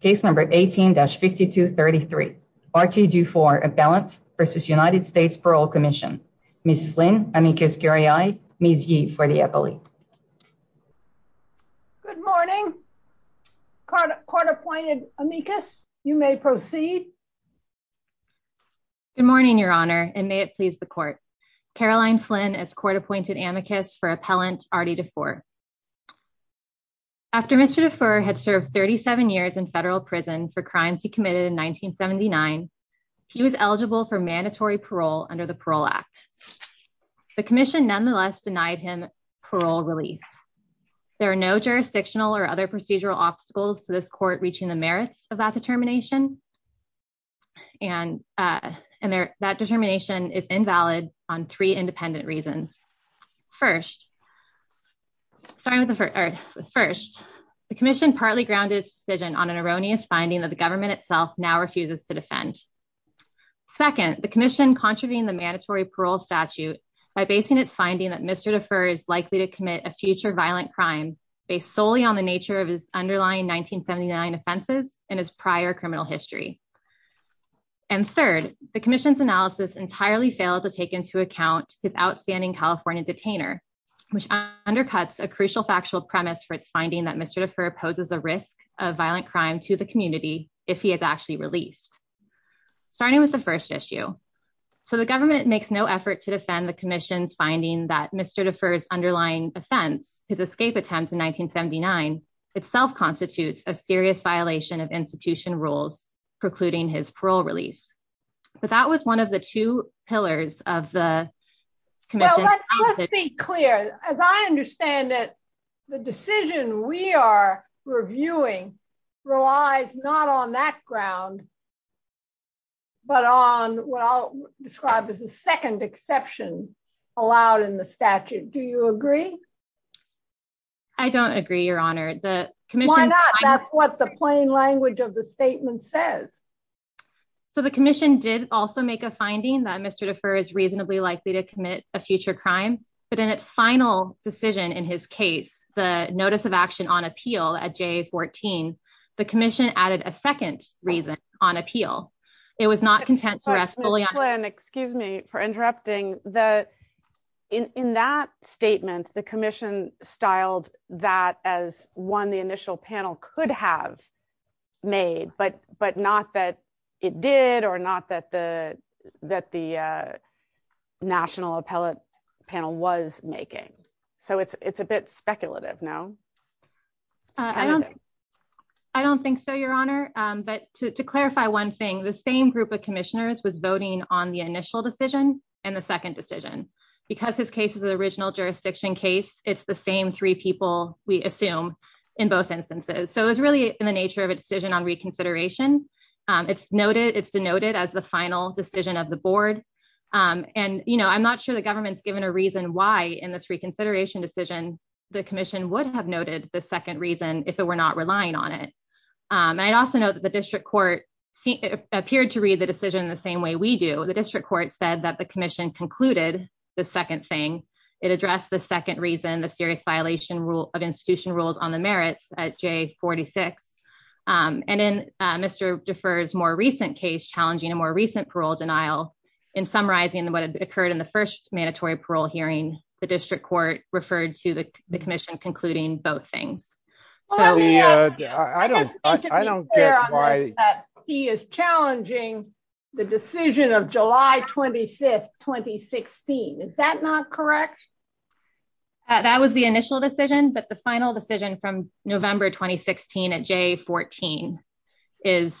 case number 18-5233. R.T. Dufur, Appellant v. United States Parole Commission. Ms. Flynn, amicus curiae, Ms. Yee for the appellee. Good morning. Court appointed amicus, you may proceed. Good morning, your honor, and may it please the court. Caroline Flynn as court appointed amicus for Appellant R.D. Dufur. After Mr. Dufur had served 37 years in federal prison for crimes he committed in 1979, he was eligible for mandatory parole under the Parole Act. The commission nonetheless denied him parole release. There are no jurisdictional or other procedural obstacles to this court reaching the merits of that determination, and that determination is based solely on the nature of his underlying 1979 offenses and his prior criminal history. And third, the commission's analysis entirely failed to take into account his outstanding California detainer, which undercuts a crucial factual premise for its finding that Mr. Dufur poses a risk of violent crime to the community if he is actually released. Starting with the first issue. So the government makes no effort to defend the commission's finding that Mr. Dufur's underlying offense, his escape attempt in 1979, itself constitutes a serious violation of institution rules precluding his parole release. But that was one of the two pillars of the commission. Let's be clear. As I understand it, the decision we are reviewing relies not on that ground, but on what I'll describe as the second exception allowed in the statute. Do you agree? I don't agree, Your Honor. Why not? That's what the plain language of the statement says. So the commission did also make a finding that Mr. Dufur is reasonably likely to commit a future crime, but in its final decision, in his case, the notice of action on appeal at J14, the commission added a second reason on appeal. It was not content to rest fully on- Excuse me for interrupting. In that statement, the commission styled that as one the initial panel could have made, but not that it did or not that the national appellate panel was making. So it's a bit speculative, no? I don't think so, Your Honor. But to clarify one thing, the same group of commissioners was voting on the initial decision and the second decision. Because his case is an original jurisdiction case, it's the same three people, we assume, in both instances. So it was really in the nature of a decision on reconsideration. It's denoted as the final decision of the board. And I'm not sure the government's given a reason why in this reconsideration decision, the commission would have noted the second reason if it were not relying on it. And I'd also note that the district court appeared to read the decision the same way we do. The district court said that the commission concluded the second thing. It addressed the second reason, the serious violation of institution rules on the merits at J46. And in Mr. Defer's more recent case, challenging a more recent parole denial, in summarizing what had occurred in the first mandatory parole hearing, the district court referred to the commission concluding both things. Well, let me ask you. I just need to be clear on this that he is challenging the decision of July 25, 2016. Is that not correct? That was the initial decision. But the final decision from November 2016 at J14 is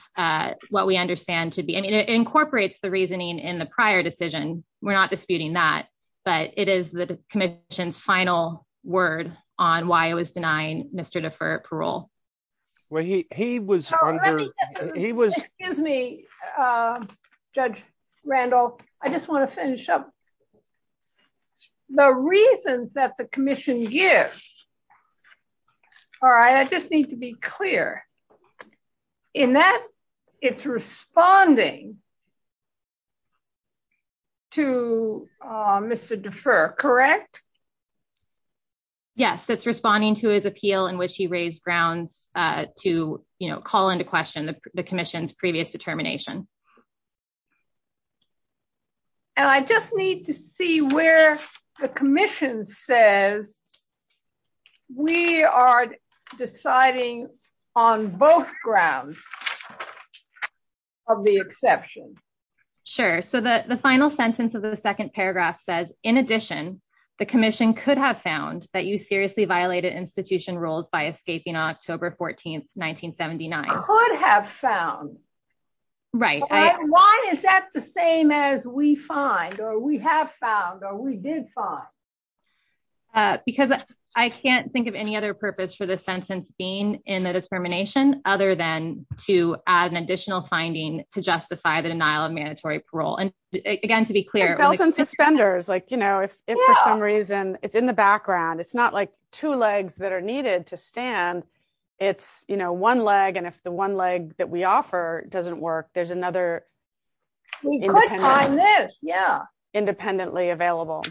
what we understand to be. I mean, it incorporates the reasoning in the prior decision. We're not disputing that. But it is the commission's final word on why it was denying Mr. Defer parole. Well, he was under. He was. Excuse me, Judge Randall. I just want to finish up. The reasons that the commission gives. All right. I just need to be clear in that it's responding to Mr. Defer, correct? Yes, it's responding to his appeal in which he raised grounds to call into question the commission's previous determination. And I just need to see where the commission says we are deciding on both grounds of the exception. Sure. So the final sentence of the second paragraph says, in addition, the commission could have found that you seriously violated institution rules by escaping October 14th, 1979. Could have found. Right. Why is that the same as we find or we have found or we did find? Because I can't think of any other purpose for the sentence being in the determination other than to add an additional finding to justify the denial of mandatory parole. And again, to be clear, it was in suspenders like, you know, if for some reason it's in the background, it's not like two legs that are needed to stand. It's one leg. And if the one leg that we offer doesn't work, there's another. We could find this. Yeah. Independently available.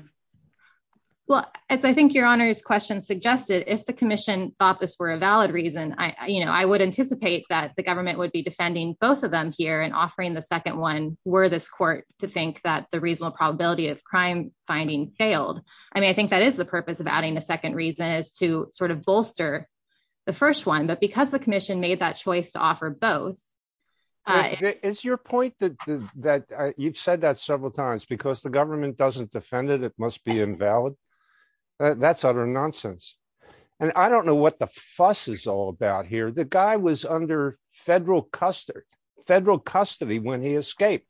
Well, as I think your honor's question suggested, if the commission thought this were a valid reason, I would anticipate that the government would be defending both of them here and offering the second one were this court to think that the reasonable probability of crime finding failed. I mean, I think that is the purpose of adding a second reason is to sort of bolster the first one. But because the commission made that choice to offer both. Is your point that you've said that several times because the government doesn't defend it, it must be invalid. That's utter nonsense. And I don't know what the fuss is all about here. The guy was under federal custody, federal custody when he escaped.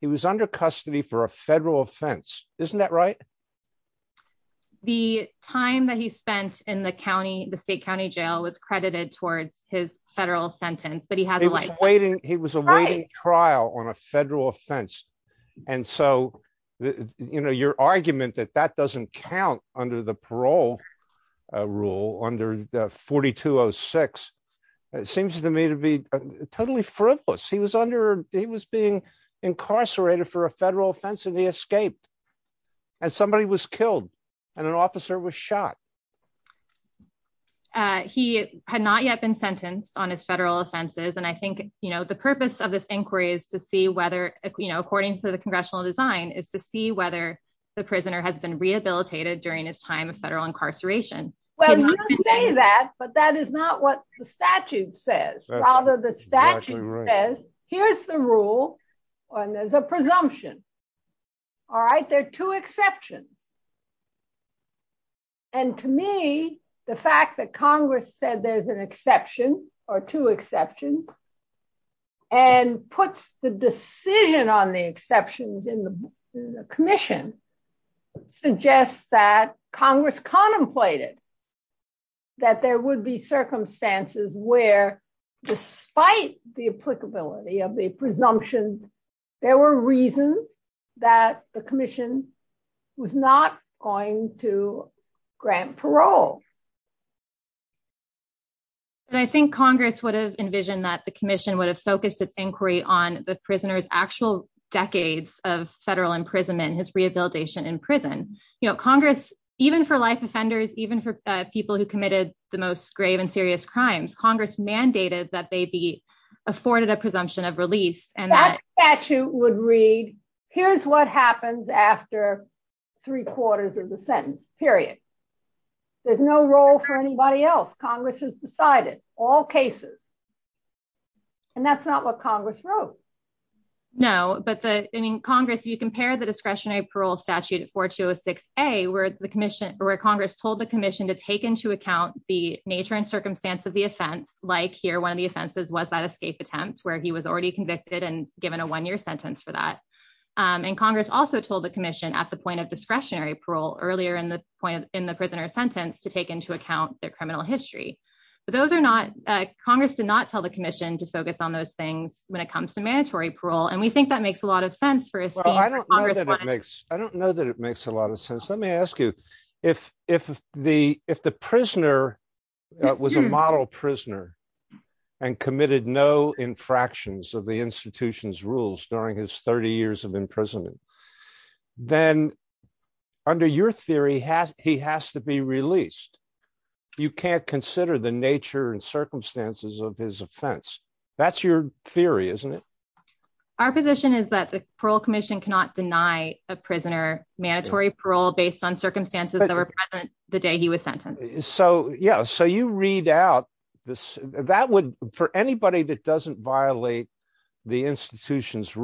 He was under custody for a federal offense. Isn't that right? The time that he spent in the county, the state county jail was credited towards his federal sentence, but he has a life waiting. He was awaiting trial on a federal offense. And so, you know, your argument that that doesn't count under the parole rule under 4206, it seems to me to be totally frivolous. He was under he was being incarcerated for a federal offense and he escaped as somebody was killed and an officer was shot. He had not yet been sentenced on his federal offenses. And I think, you know, the purpose of this inquiry is to see whether, you know, according to the congressional design is to see whether the prisoner has been rehabilitated during his time of federal incarceration. Well, you say that, but that is not what the statute says. Although the statute says, here's the rule, and there's a presumption. All right, there are two exceptions. And to me, the fact that Congress said there's an exception or two exceptions, and puts the decision on the exceptions in the commission, suggests that Congress contemplated that there would be circumstances where, despite the applicability of the presumption, there were reasons that the commission was not going to grant parole. And I think Congress would have envisioned that the commission would have focused its inquiry on the prisoners actual decades of federal imprisonment and his rehabilitation in prison. You know, Congress, even for life offenders, even for people who committed the most grave and serious crimes, Congress mandated that they be afforded a presumption of release. And that statute would read, here's what happens after three quarters of the sentence, period. There's no role for anybody else. Congress has decided, all cases. And that's not what Congress wrote. No, but Congress, if you compare the discretionary parole statute 4206A, where Congress told the commission to take into account the nature and circumstance of the offense, like here, one of the offenses was that escape attempt, where he was already convicted and given a one-year sentence for that. And Congress also told the commission at the point of discretionary parole, earlier in the prisoner's sentence, to take into account their criminal history. But those are not, Congress did not tell the commission to focus on those things when it comes to mandatory parole. And we think that makes a lot of sense. Well, I don't know that it makes a lot of sense. Let me ask you, if the prisoner was a model prisoner and committed no infractions of the institution's rules during his 30 years of incarceration, your theory has, he has to be released. You can't consider the nature and circumstances of his offense. That's your theory, isn't it? Our position is that the parole commission cannot deny a prisoner mandatory parole based on circumstances that were present the day he was sentenced. So yeah, so you read out this, that would, for anybody that doesn't violate the institution's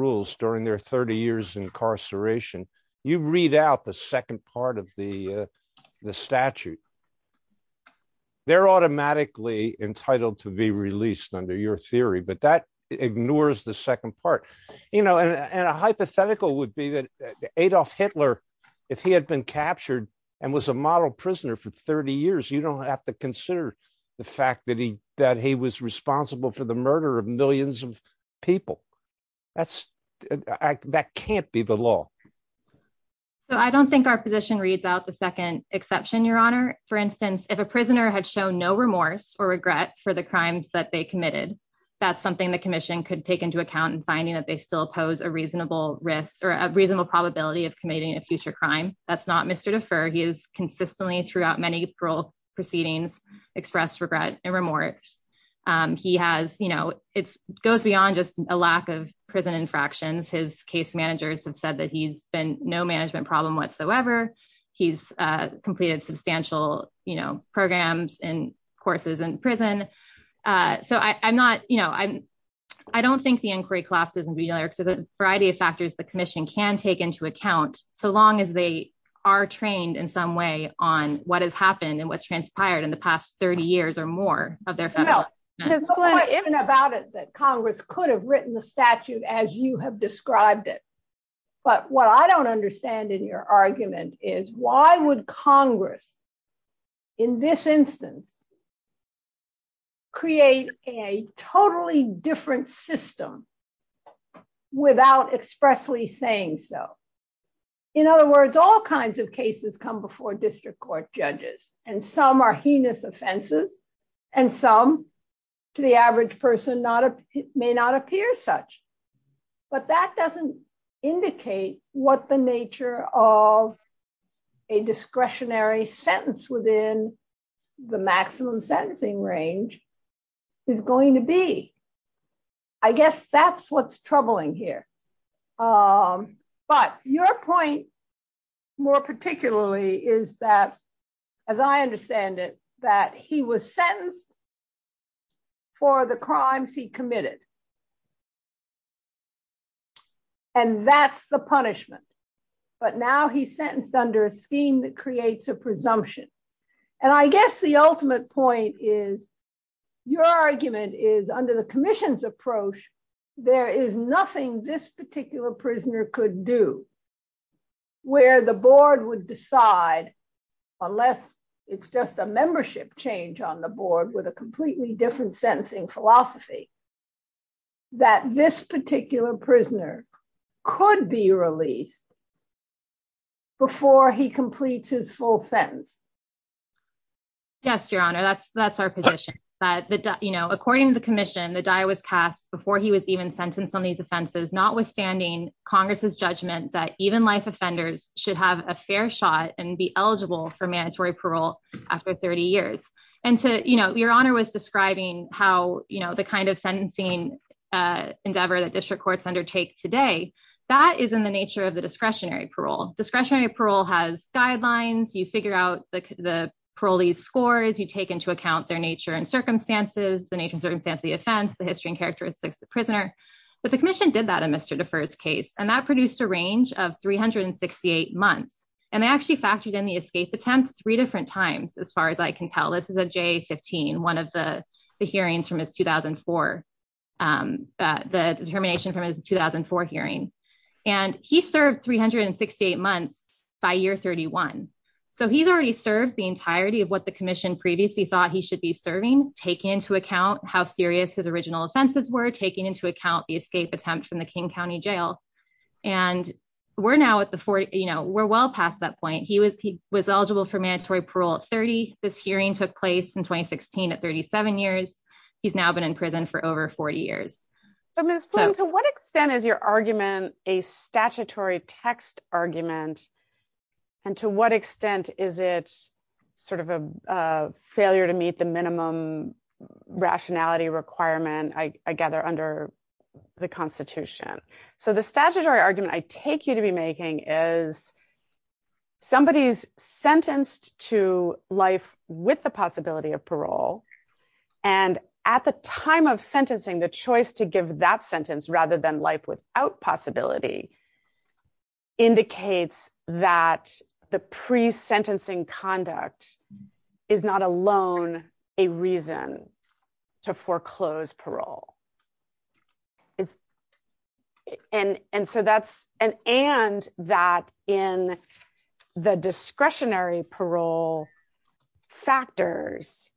incarceration, you read out the second part of the statute. They're automatically entitled to be released under your theory, but that ignores the second part. You know, and a hypothetical would be that Adolf Hitler, if he had been captured and was a model prisoner for 30 years, you don't have to consider the fact that he, that he was responsible for the murder of millions of people. That's, that can't be the law. So I don't think our position reads out the second exception, your honor. For instance, if a prisoner had shown no remorse or regret for the crimes that they committed, that's something the commission could take into account in finding that they still pose a reasonable risk or a reasonable probability of committing a future crime. That's not Mr. Defer. He is consistently throughout many parole proceedings expressed remorse. He has, you know, it's goes beyond just a lack of prison infractions. His case managers have said that he's been no management problem whatsoever. He's completed substantial, you know, programs and courses in prison. So I'm not, you know, I'm, I don't think the inquiry collapses in the variety of factors the commission can take into account, so long as they are trained in some on what has happened and what's transpired in the past 30 years or more of their federal. Even about it, that Congress could have written the statute as you have described it. But what I don't understand in your argument is why would Congress in this instance create a totally different system without expressly saying so. In other words, all kinds of cases come before district court judges and some are heinous offenses and some to the average person may not appear such. But that doesn't indicate what the nature of a discretionary sentence within the maximum sentencing range is going to be. I guess that's what's troubling here. But your point more particularly is that, as I understand it, that he was sentenced for the crimes he committed. And that's the punishment. But now he's sentenced under a scheme that creates a presumption. And I guess the ultimate point is your argument is under the commission's approach, there is nothing this particular prisoner could do where the board would decide, unless it's just a membership change on the board with a completely different sentencing philosophy, that this particular prisoner could be released before he completes his full sentence. Yes, Your Honor, that's our position. But according to the commission, the die was cast before he was even sentenced on these offenses, notwithstanding Congress's judgment that even life offenders should have a fair shot and be eligible for mandatory parole after 30 years. And so Your Honor was describing how the kind of sentencing endeavor that district courts undertake today, that is in the nature of the discretionary parole. Discretionary parole has guidelines, you figure out the parolees scores, you take into account their nature and circumstances, the nature and circumstances of the offense, the history and characteristics of the prisoner. But the commission did that in Mr. Defer's case, and that produced a range of 368 months. And they actually factored in the escape attempt three different times. As far as I can tell, this is a J-15, one of the hearings from his 2004, the determination from his 2004 hearing. And he served 368 months by year 31. So he's already served the entirety of what the commission previously thought he should be serving, taking into account how serious his original offenses were taking into account the escape attempt from the King County Jail. And we're now at the 40, you know, we're well past that point, he was he was eligible for mandatory parole at 30. This hearing took place in 2016, at 37 years, he's now been in prison for over 40 years. Ms. Flynn, to what extent is your argument a statutory text argument? And to what extent is it sort of a failure to meet the minimum rationality requirement, I gather under the Constitution. So the statutory argument I take you to be making is somebody's sentenced to life with the possibility of parole. And at the time of sentencing, the choice to give that sentence rather than life without possibility indicates that the pre sentencing conduct is not alone a reason to foreclose parole. And so that's an and that in the discretionary parole factors,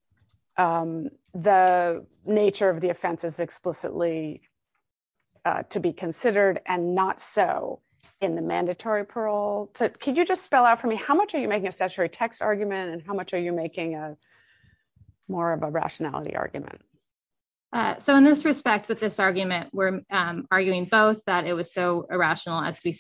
the nature of the offense is explicitly to be considered and not so in the mandatory parole to Can you just spell out for me, how much are you making a statutory text argument? And how much are you making a more of a rationality argument? So in this respect, with this argument, we're arguing both that it was so irrational as to be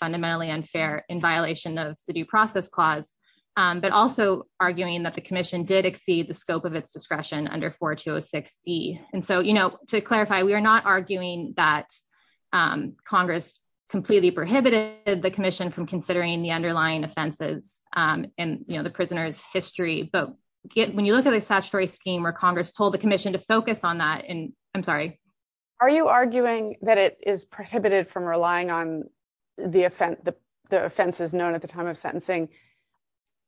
arguing that the commission did exceed the scope of its discretion under 4206. And so, you know, to clarify, we are not arguing that Congress completely prohibited the commission from considering the underlying offenses, and you know, the prisoners history, but get when you look at a statutory scheme, or Congress told the commission to focus on that, and I'm sorry, are you arguing that it is prohibited from relying on the offense, the offenses known at the time of sentencing,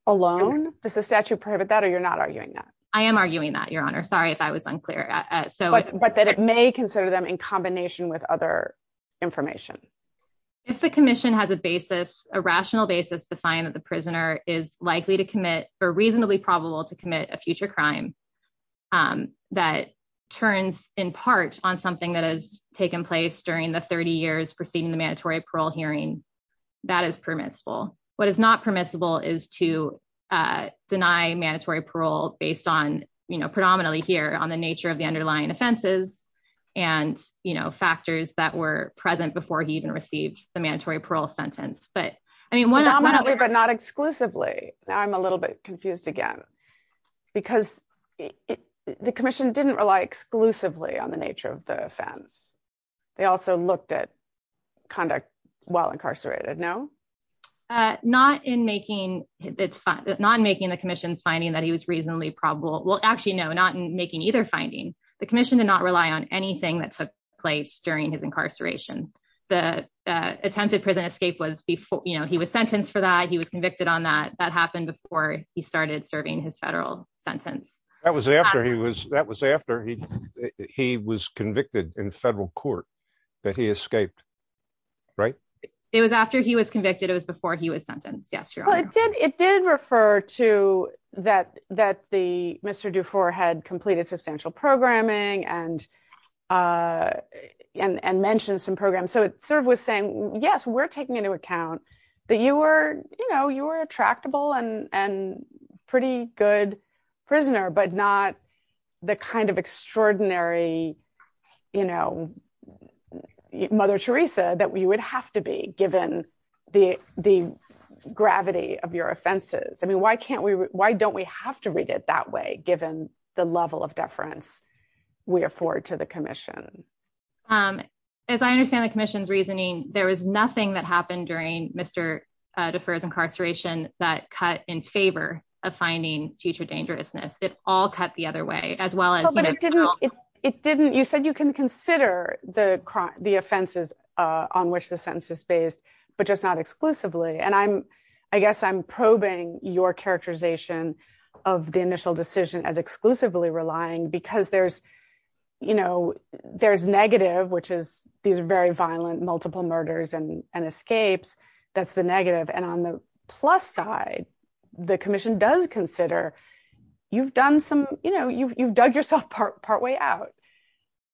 alone? Does the statute prohibit that? Or you're not arguing that? I am arguing that Your Honor, sorry, if I was unclear. So but that it may consider them in combination with other information. If the commission has a basis, a rational basis to find that the prisoner is likely to commit or reasonably probable to commit a future crime, that turns in part on something that has taken place during the 30 years preceding the mandatory parole hearing, that is permissible. What is not permissible is to deny mandatory parole based on, you know, predominantly here on the nature of the underlying offenses. And, you know, factors that were present before he even received the mandatory parole sentence. But I mean, one, but not exclusively, I'm a little bit confused again. Because the commission didn't rely exclusively on the nature of the offense. They also looked at conduct while incarcerated, no? Not in making it's not making the commission's finding that he was reasonably probable. Well, actually, no, not making either finding. The commission did not rely on anything that took place during his incarceration. The attempted prison escape was before, you know, he was sentenced for that he was convicted on that that happened before he started serving his federal sentence. That was after he was that was after he he was convicted in federal court, that he escaped. Right. It was after he was convicted. It was before he was sentenced. Yes, you're right. It did refer to that, that the Mr. Dufour had completed substantial programming and and mentioned some programs. So it sort of was saying, yes, we're taking into account that you were, you know, you were a tractable and pretty good prisoner, but not the kind of extraordinary, you know, Mother Teresa that we would have to be given the the gravity of your offenses. I mean, why can't we why don't we have to read it that way, given the level of deference we afford to the commission? As I understand the commission's reasoning, there was nothing that happened during Mr. Dufour's incarceration that cut in favor of finding future dangerousness. It all cut the other way, as well as. But it didn't it didn't you said you can consider the the offenses on which the sentence is based, but just not exclusively. And I'm I guess I'm probing your characterization of the initial decision as exclusively relying because there's, you know, there's negative, which is these very violent multiple murders and escapes. That's the negative. And on the plus side, the commission does consider you've done some, you know, you've dug yourself part way out,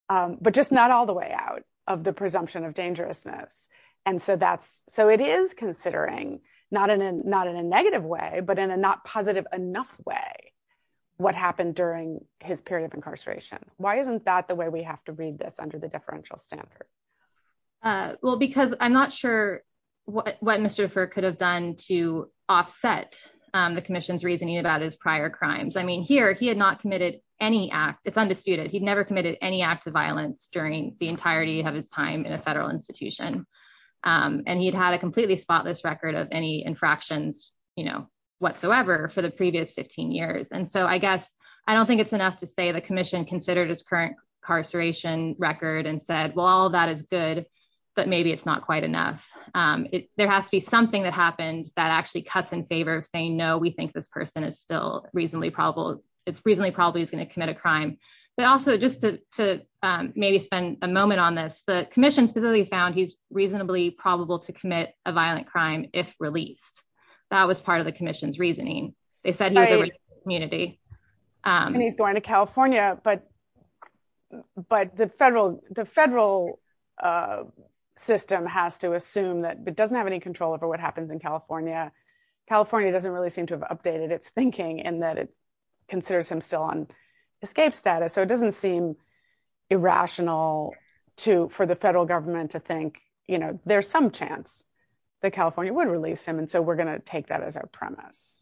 but just not all the way out of the presumption of dangerousness. And so that's so it is considering not in a not in a negative way, but in a not positive enough way, what happened during his period of incarceration. Why isn't that the way we have to read this under the differential standard? Well, because I'm not sure what what Mr. Dufour could have done to offset the commission's reasoning about his prior crimes. I mean, here, he had not committed any act. It's undisputed. He'd never committed any act of violence during the entirety of his time in a federal institution. And he'd had a completely spotless record of any infractions, you know, whatsoever for the previous 15 years. And so I guess I don't think it's enough to say the commission considered his incarceration record and said, well, all that is good. But maybe it's not quite enough. There has to be something that happened that actually cuts in favor of saying no, we think this person is still reasonably probable. It's reasonably probably is going to commit a crime. But also just to maybe spend a moment on this, the commission specifically found he's reasonably probable to commit a violent crime if released. That was part of the commission's but the federal the federal system has to assume that it doesn't have any control over what happens in California. California doesn't really seem to have updated its thinking and that it considers him still on escape status. So it doesn't seem irrational to for the federal government to think, you know, there's some chance that California would release him. And so we're going to take that as our premise.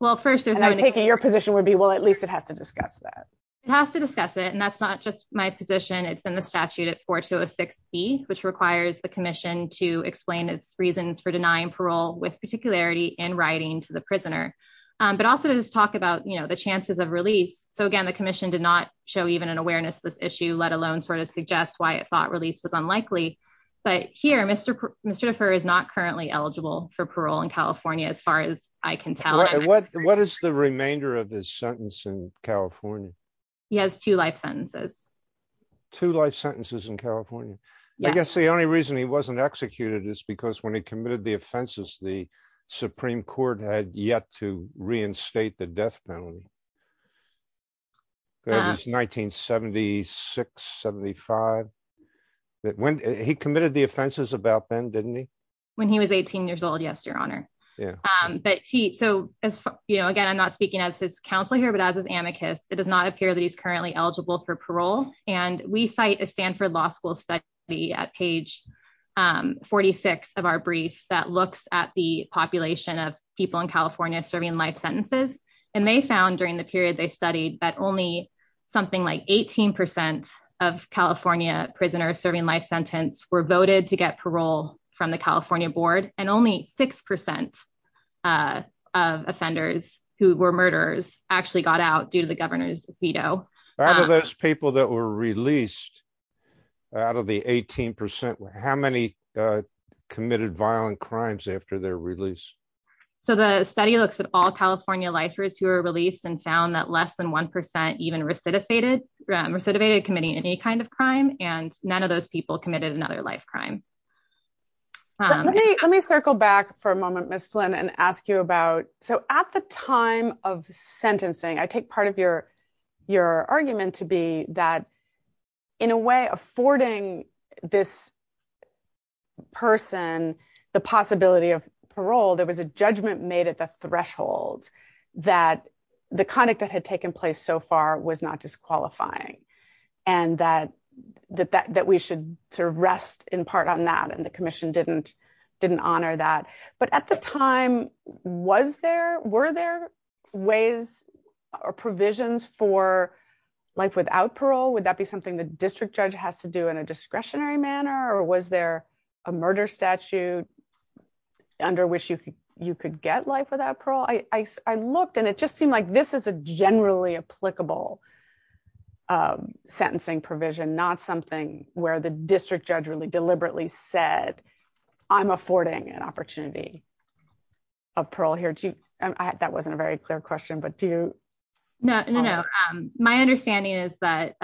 Well, first, there's no taking your position would be well, at least it has to discuss that. It has to discuss it. And that's not just my position. It's in the statute at four to six feet, which requires the commission to explain its reasons for denying parole with particularity in writing to the prisoner. But also to talk about, you know, the chances of release. So again, the commission did not show even an awareness of this issue, let alone sort of suggest why it thought release was unlikely. But here, Mr. Mr. defer is not currently eligible for parole in California, as far as I can tell, what what is the remainder of his sentence in California? He has two life sentences, two life sentences in California. I guess the only reason he wasn't executed is because when he committed the offenses, the Supreme Court had yet to reinstate the death penalty. That was 1976 75. That when he committed the offenses about then when he was 18 years old. Yes, Your Honor. But so, you know, again, I'm not speaking as his counselor here, but as his amicus, it does not appear that he's currently eligible for parole. And we cite a Stanford Law School study at page 46 of our brief that looks at the population of people in California serving life sentences. And they found during the period they studied that only something like 18 percent of California prisoners serving life sentence were voted to parole from the California board. And only six percent of offenders who were murderers actually got out due to the governor's veto. Out of those people that were released out of the 18 percent, how many committed violent crimes after their release? So the study looks at all California lifers who are released and found that less than one percent even recidivated recidivated any kind of crime. And none of those people committed another life crime. Let me circle back for a moment, Ms. Flynn, and ask you about. So at the time of sentencing, I take part of your your argument to be that in a way affording this person the possibility of parole, there was a judgment made at the threshold that the conduct that had taken place so far was not disqualifying. And that we should sort of rest in part on that. And the commission didn't honor that. But at the time, were there ways or provisions for life without parole? Would that be something the district judge has to do in a discretionary manner? Or was there a murder statute under which you could get life without parole? I looked and it just seemed like this is a generally applicable sentencing provision, not something where the district judge really deliberately said, I'm affording an opportunity of parole here. That wasn't a very clear question, but do you know? No, my understanding is that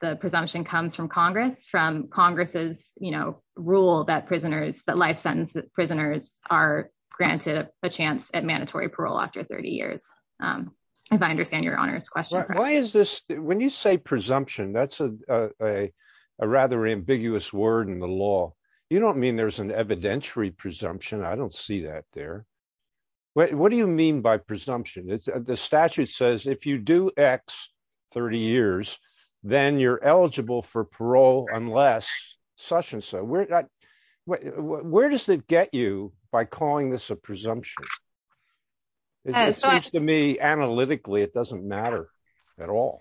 the presumption comes from Congress, from Congress's rule that prisoners that life sentence prisoners are granted a chance at mandatory parole after 30 years. If I understand your honor's question, why is this when you say presumption? That's a rather ambiguous word in the law. You don't mean there's an evidentiary presumption. I don't see that there. What do you mean by presumption? The statute says if you do x 30 years, then you're eligible for parole unless such and so we're not Where does it get you by calling this a presumption? To me, analytically, it doesn't matter at all.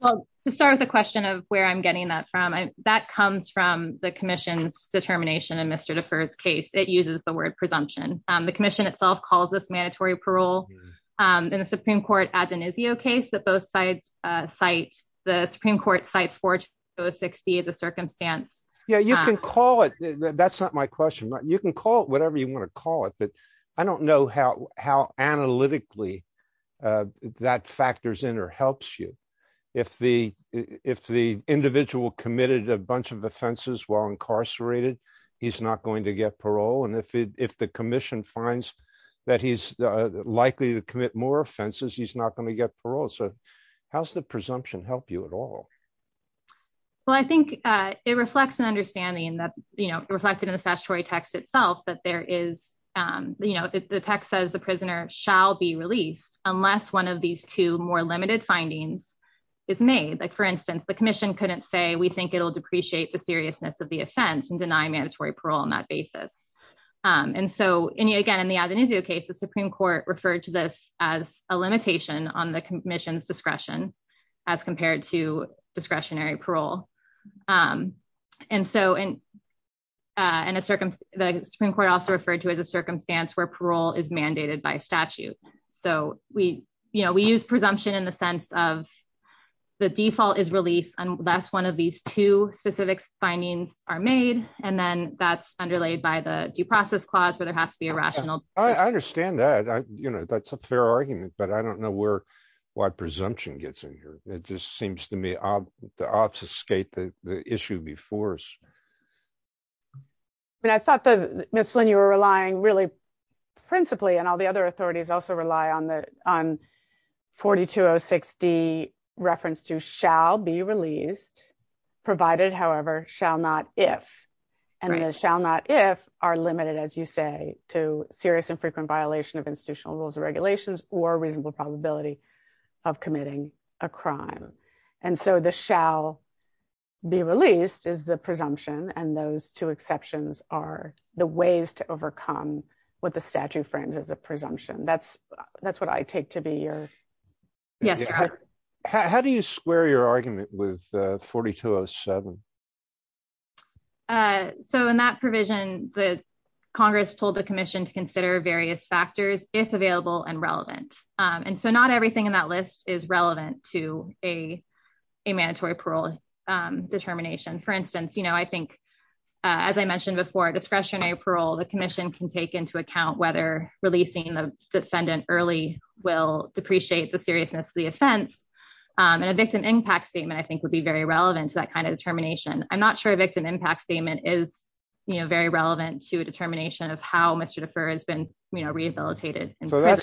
Well, to start with a question of where I'm getting that from, that comes from the commission's determination in Mr. Defer's case, it uses the word presumption. The commission itself calls this mandatory parole in the Supreme Court ad denisio case that both sides cite the Supreme Court cites 4060 as a circumstance. Yeah, you can call it. That's not my question. You can call it whatever you want to call it. But I don't know how how analytically that factors in or helps you. If the if the individual committed a bunch of offenses while incarcerated, he's not going to get parole. And if if the commission finds that he's likely to commit more offenses, he's not going to get parole. So how's the understanding that, you know, reflected in the statutory text itself that there is, you know, the text says the prisoner shall be released unless one of these two more limited findings is made. Like, for instance, the commission couldn't say we think it'll depreciate the seriousness of the offense and deny mandatory parole on that basis. And so any again, in the ad denisio case, the Supreme Court referred to this as a limitation on the commission's discretion, as compared to discretionary parole. And so in a circumstance, the Supreme Court also referred to as a circumstance where parole is mandated by statute. So we, you know, we use presumption in the sense of the default is released unless one of these two specific findings are made. And then that's underlayed by the due process clause where there has to be a rational. I understand that, you know, that's a fair argument, but I don't know where, why presumption gets in here. It just seems to me, to obfuscate the issue before us. I mean, I thought that Ms. Flynn, you were relying really principally and all the other authorities also rely on 4206D reference to shall be released provided, however, shall not if. And the shall not if are limited, as you say, to serious and frequent violation of institutional rules and regulations or reasonable probability of committing a crime. And so the shall be released is the presumption. And those two exceptions are the ways to overcome what the statute frames as a presumption. That's what I take to be your. Yes. How do you square your argument with 4207? So in that provision, the Congress told the commission to consider various factors, if available and relevant. And so not everything in that list is relevant to a mandatory parole determination. For instance, you know, I think as I mentioned before, discretionary parole, the commission can take into account whether releasing the defendant early will depreciate the seriousness of the offense. And a victim impact statement, I think would be very relevant to that kind of determination. I'm not sure a victim impact statement is, you know, very So that's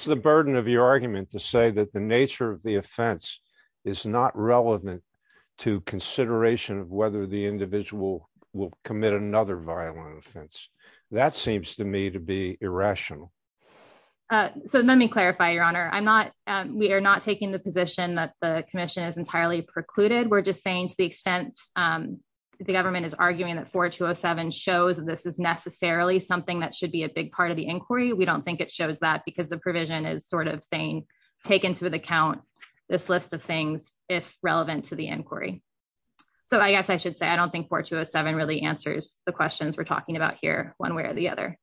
the burden of your argument to say that the nature of the offense is not relevant to consideration of whether the individual will commit another violent offense. That seems to me to be irrational. So let me clarify, Your Honor, I'm not, we are not taking the position that the commission is entirely precluded. We're just saying to the extent the government is arguing that 4207 shows that this is necessarily something that should be a big part of the inquiry. We don't think it shows that because the provision is sort of saying, take into account this list of things, if relevant to the inquiry. So I guess I should say I don't think 4207 really answers the questions we're talking about here, one way or the other.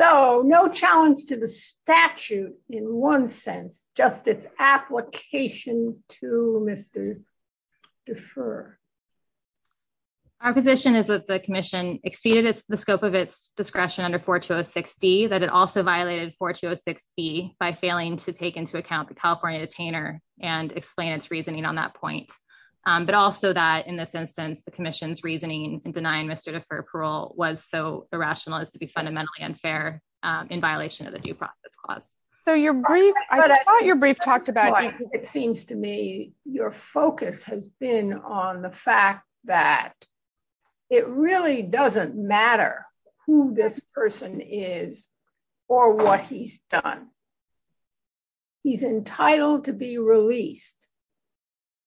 So no challenge to the statute in one sense, just its application to Mr. Defer. Our position is that the commission exceeded the scope of its discretion under 4206d, that it also violated 4206b by failing to take into account the California detainer and explain its reasoning on that point. But also that in this instance, the commission's reasoning and denying Mr. Defer parole was so irrational as to be fundamentally unfair in violation of the due process clause. So your brief, I thought your brief talked about it seems to me, your focus has been on the fact that it really doesn't matter who this person is, or what he's done. He's entitled to be released,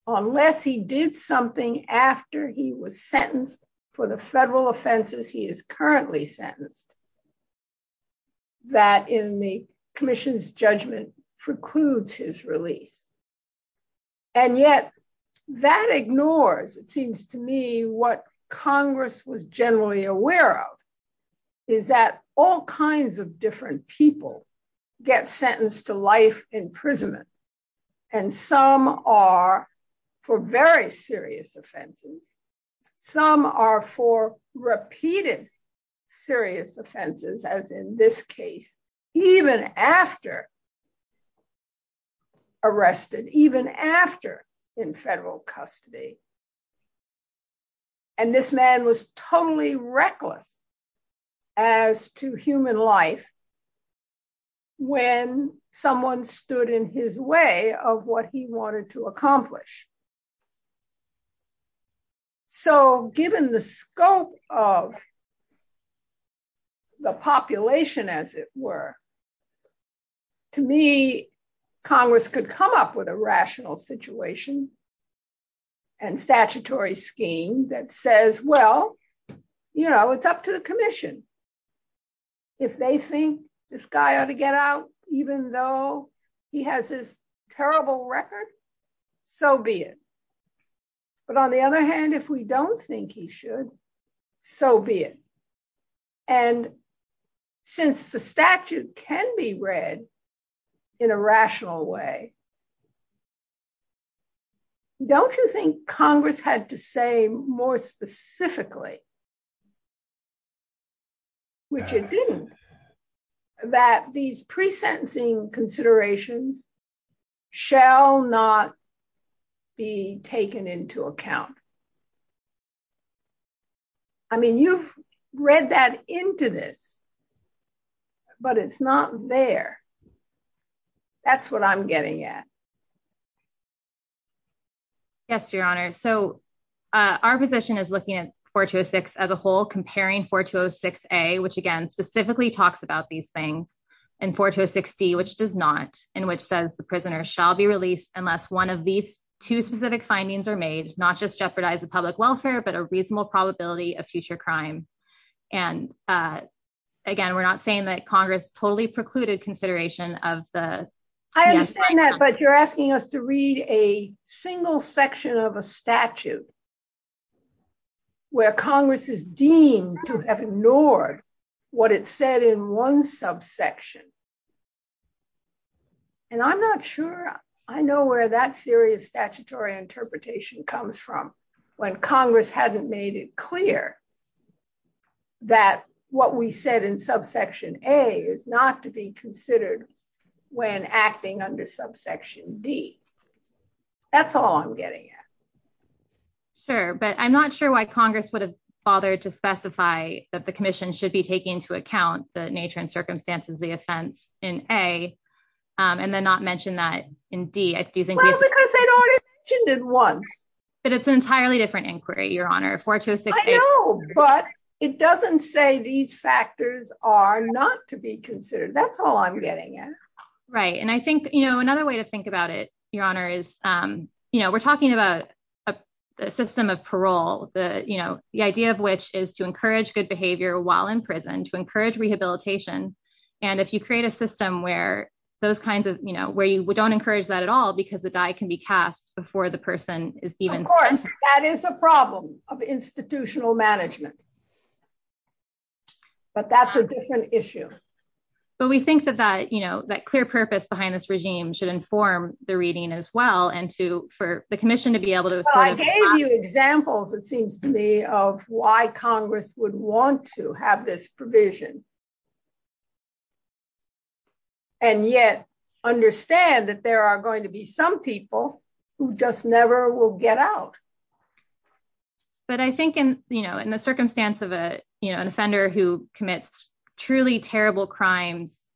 unless he did something after he was sentenced for the federal offenses he is currently sentenced, that in the commission's judgment precludes his release. And yet, that ignores it seems to me what Congress was generally aware of, is that all kinds of different people get sentenced to life imprisonment. And some are for very serious offenses. Some are for repeated serious offenses, as in this case, even after arrested, even after in federal custody. And this man was totally in his way of what he wanted to accomplish. So given the scope of the population, as it were, to me, Congress could come up with a rational situation and statutory scheme that says, well, you know, it's up to the commission. If they think this guy ought to get out, even though he has this terrible record, so be it. But on the other hand, if we don't think he should, so be it. And since the statute can be read in a rational way, don't you think Congress had to say more specifically, which it didn't, that these pre sentencing considerations shall not be taken into account? I mean, you've read that into this, but it's not there. That's what I'm getting at. Yes, Your Honor. So our position is looking at 4206 as a whole, comparing 4206A, which again, specifically talks about these things, and 4206D, which does not, in which says the prisoner shall be released unless one of these two specific findings are made, not just jeopardize the public welfare, but a reasonable probability of future crime. And again, we're not saying that Congress totally precluded consideration of the- But you're asking us to read a single section of a statute where Congress is deemed to have ignored what it said in one subsection. And I'm not sure I know where that theory of statutory interpretation comes from, when Congress hadn't made it clear that what we said in subsection A is not to be considered when acting under subsection D. That's all I'm getting at. Sure, but I'm not sure why Congress would have bothered to specify that the commission should be taking into account the nature and circumstances of the offense in A, and then not mention that in D. I do think- Well, because they'd already mentioned it once. But it's an entirely different inquiry, Your Honor. 4206- But it doesn't say these factors are not to be considered. That's all I'm getting at. Right. And I think another way to think about it, Your Honor, is we're talking about a system of parole, the idea of which is to encourage good behavior while in prison, to encourage rehabilitation. And if you create a system where you don't encourage that at all because the die can be cast before the person is even- Of course, that is a problem of institutional management. But that's a different issue. But we think that that clear purpose behind this regime should inform the reading as well, and for the commission to be able to- Well, I gave you examples, it seems to me, of why Congress would want to have this provision, and yet understand that there are going to be some people who just never will get out. But I think in the circumstance of an offender who commits truly terrible crimes,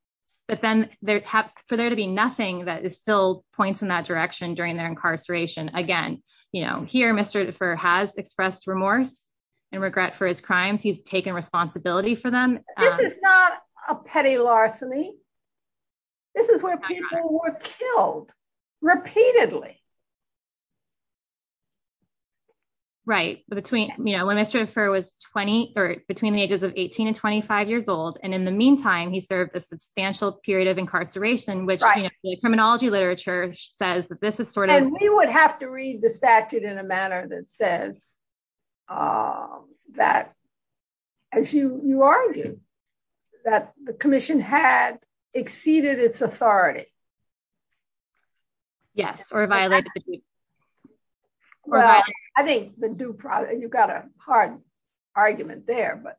but then for there to be nothing that still points in that direction during their incarceration, again, here Mr. Defer has expressed remorse and regret for his crimes. He's taken responsibility for them. This is not a petty larceny. This is where people were killed repeatedly. Right. When Mr. Defer was between the ages of 18 and 25 years old, and in the meantime, he served a substantial period of incarceration, which the criminology literature says that this is sort of- And we would have to read the statute in a manner that says that, as you argue, that the commission had exceeded its authority. Yes, or violated the- Well, I think the due process- You've got a hard argument there, but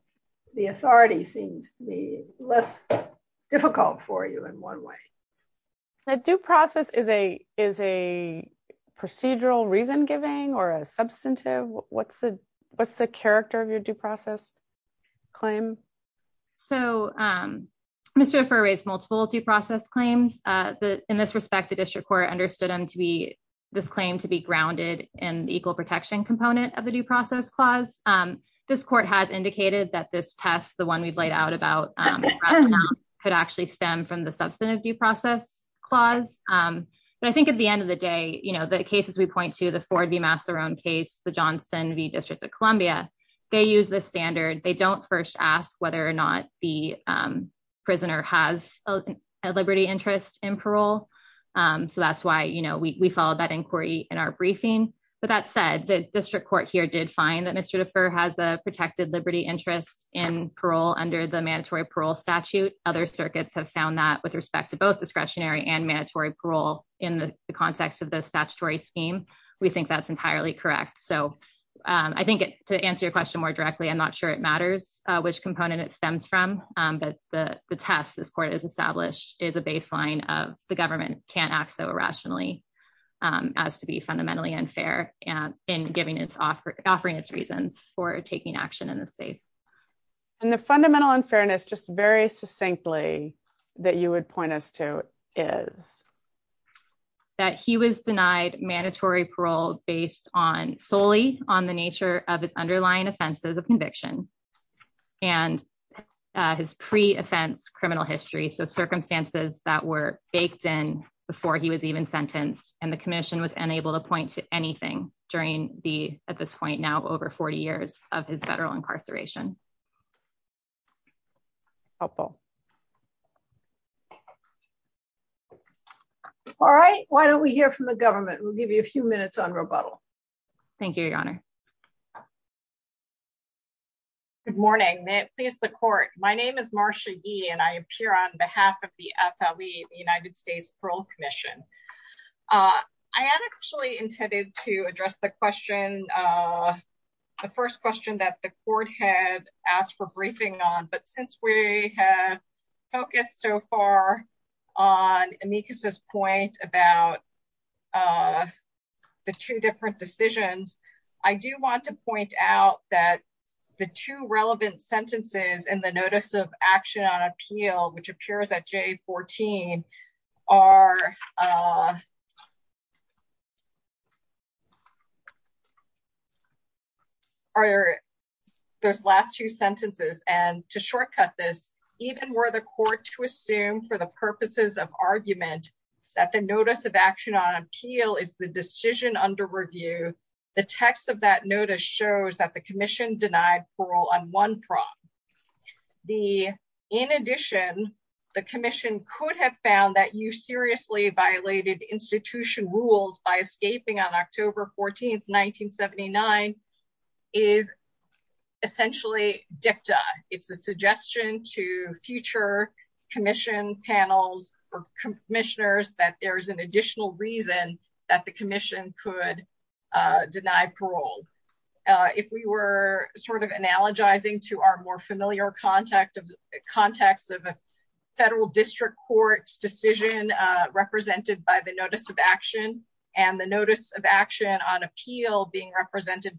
the authority seems to be less difficult for you in one way. The due process is a procedural reason giving or a substantive? What's the character of your due process claim? So, Mr. Defer raised multiple due process claims. In this respect, the district court understood this claim to be grounded in the equal protection component of the due process clause. This court has indicated that this test, the one we've laid out about could actually stem from the substantive due process clause. But I think at the end of the day, the cases we point to, the Ford v. Massarone case, the Johnson v. District of Columbia, they use this standard. They don't first ask whether or not the prisoner has a liberty interest in parole. So, that's why we followed that inquiry in our briefing. But that said, the district court here did find that Mr. Defer has a protected liberty interest in parole under the mandatory parole statute. Other circuits have found that with respect to both discretionary and mandatory parole in the context of the statutory scheme. We think that's entirely correct. So, I think to answer your question more directly, I'm not sure it matters which component it stems from. But the test this court has established is a baseline of the government can't act so irrationally as to be fundamentally unfair in offering its reasons for taking action in this space. And the fundamental unfairness, just very succinctly, that you would point us to is? That he was denied mandatory parole based solely on the nature of his underlying offenses of conviction and his pre-offense criminal history. So, circumstances that were baked in before he was even sentenced. And the commission was unable to point to anything during the, at this point now, over 40 years of his federal incarceration. All right. Why don't we hear from the government? We'll give you a few minutes on rebuttal. Thank you, Your Honor. Good morning. May it please the court. My name is Marcia Yee and I appear on behalf of the United States Parole Commission. I had actually intended to address the question, the first question that the court had asked for briefing on. But since we have focused so far on Amicus's point about the two different decisions, I do want to point out that the two relevant sentences in the Notice of Action on Appeal, which appears at J14, are those last two sentences. And to shortcut this, even were the court to assume for the purposes of argument that the Notice of Action on Appeal is the decision under review, the text of that notice shows that the commission denied parole on one prong. The, in addition, the commission could have found that you seriously violated institution rules by escaping on October 14th, 1979, is essentially dicta. It's a suggestion to future commission panels or commissioners that there's an additional reason that the commission could deny parole. If we were sort of analogizing to our more familiar context of a federal district court's decision represented by the Notice of Action and the Notice of Action on Appeal being that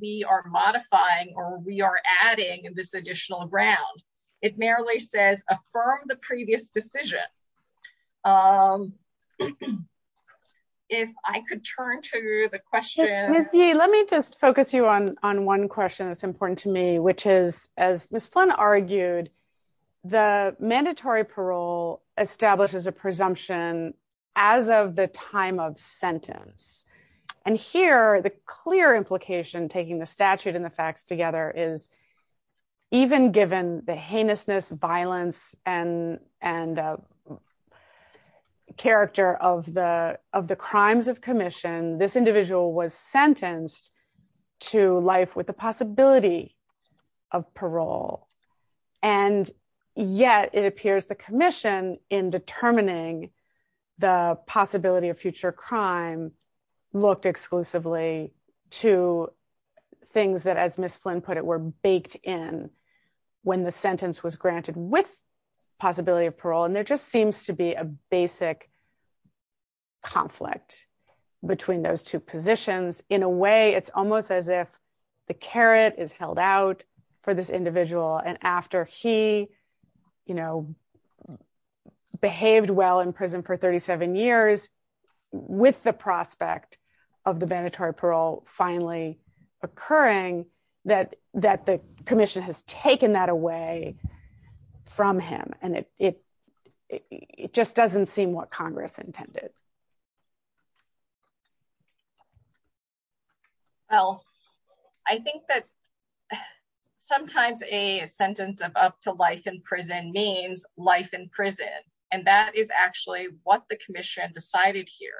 we are modifying or we are adding this additional ground, it merely says, affirm the previous decision. If I could turn to the question. Let me just focus you on one question that's important to me, which is, as Ms. Flynn argued, the mandatory parole establishes a presumption as of the time of sentence. And here, the clear implication taking the statute and the facts together is even given the heinousness, violence, and character of the crimes of commission, this individual was sentenced to life with the possibility of parole. And yet it appears the commission in determining the possibility of future crime looked exclusively to things that, as Ms. Flynn put it, were baked in when the sentence was granted with possibility of parole. And there just seems to be a basic conflict between those two positions. In a way, it's almost as if the carrot is held out for this individual. And after he behaved well in prison for 37 years, with the prospect of the mandatory parole finally occurring, that the commission has taken that away from him. And it just doesn't seem what Congress intended. Well, I think that sometimes a sentence of up to life in prison means life in prison. And that is actually what the commission decided here.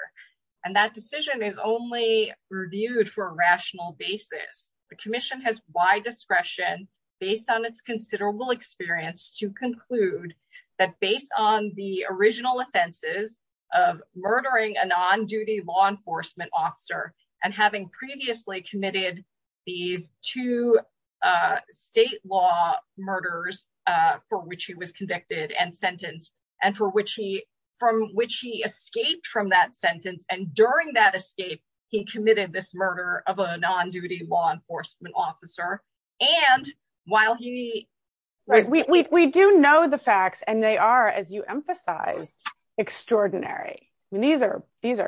And that decision is only reviewed for a rational basis. The commission has wide discretion, based on its considerable experience to conclude that based on the original offenses of murdering a non-duty law enforcement officer, and having previously committed these two state law murders for which he was convicted and from which he escaped from that sentence. And during that escape, he committed this murder of a non-duty law enforcement officer. And while he was- We do know the facts, and they are, as you emphasize, extraordinary. These are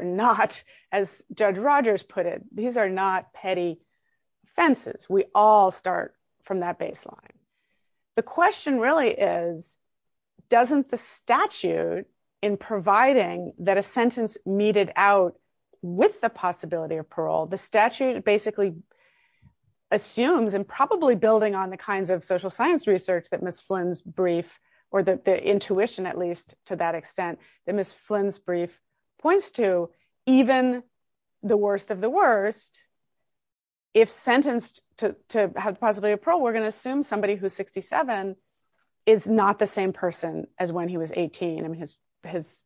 not, as Judge Rogers put it, these are not petty offenses. We all start from that baseline. The question really is, doesn't the statute in providing that a sentence meted out with possibility of parole? The statute basically assumes, and probably building on the kinds of social science research that Ms. Flynn's brief, or the intuition at least to that extent, that Ms. Flynn's brief points to, even the worst of the worst, if sentenced to have the possibility of parole, we're going to assume somebody who's 67 is not the same person as when he was 18. His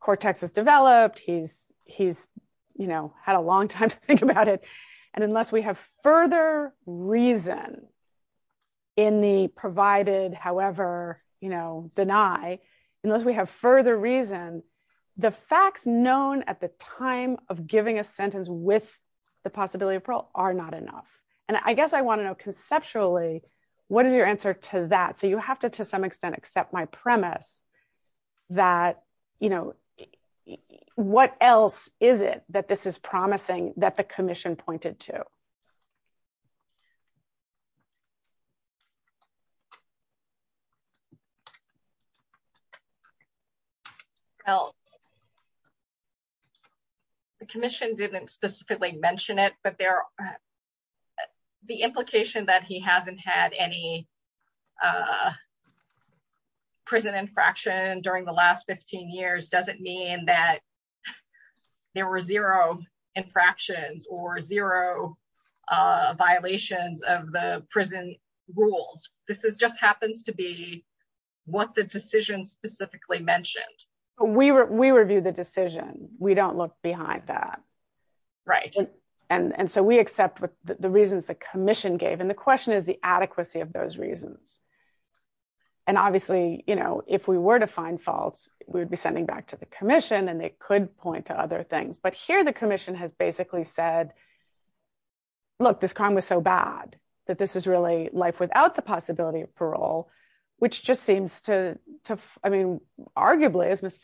cortex has developed, he's had a long time to think about it. And unless we have further reason in the provided, however, deny, unless we have further reason, the facts known at the time of giving a sentence with the possibility of parole are not enough. And I guess I want to know that, what else is it that this is promising that the commission pointed to? Well, the commission didn't specifically mention it, but the implication that he hasn't had any prison infraction during the last 15 years, doesn't mean that there were zero infractions or zero violations of the prison rules. This just happens to be what the decision specifically mentioned. We review the decision, we don't look behind that. Right. And so we accept the reasons the commission gave. And the question is the adequacy of those reasons. And obviously, if we were to find faults, we would be sending back to the commission and they could point to other things. But here the commission has basically said, look, this crime was so bad that this is really life without the possibility of parole, which just seems to, I mean, arguably, as Ms.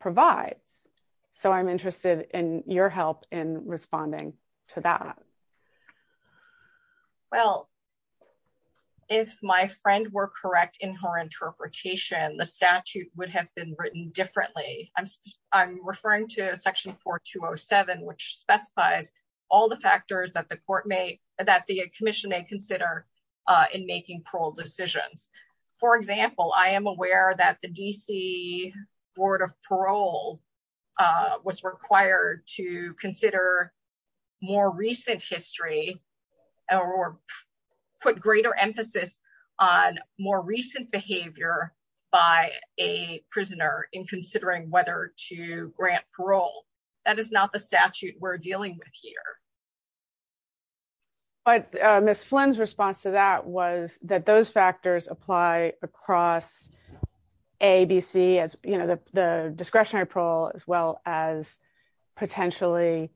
provides. So I'm interested in your help in responding to that. Well, if my friend were correct in her interpretation, the statute would have been written differently. I'm referring to section 4207, which specifies all the factors that the court may, that the commission may consider in making parole decisions. For example, I am aware that the DC board of parole was required to consider more recent history or put greater emphasis on more recent behavior by a prisoner in considering whether to grant parole. That is not the statute we're dealing with here. But Ms. Flynn's response to that was that those A, B, C as the discretionary parole, as well as potentially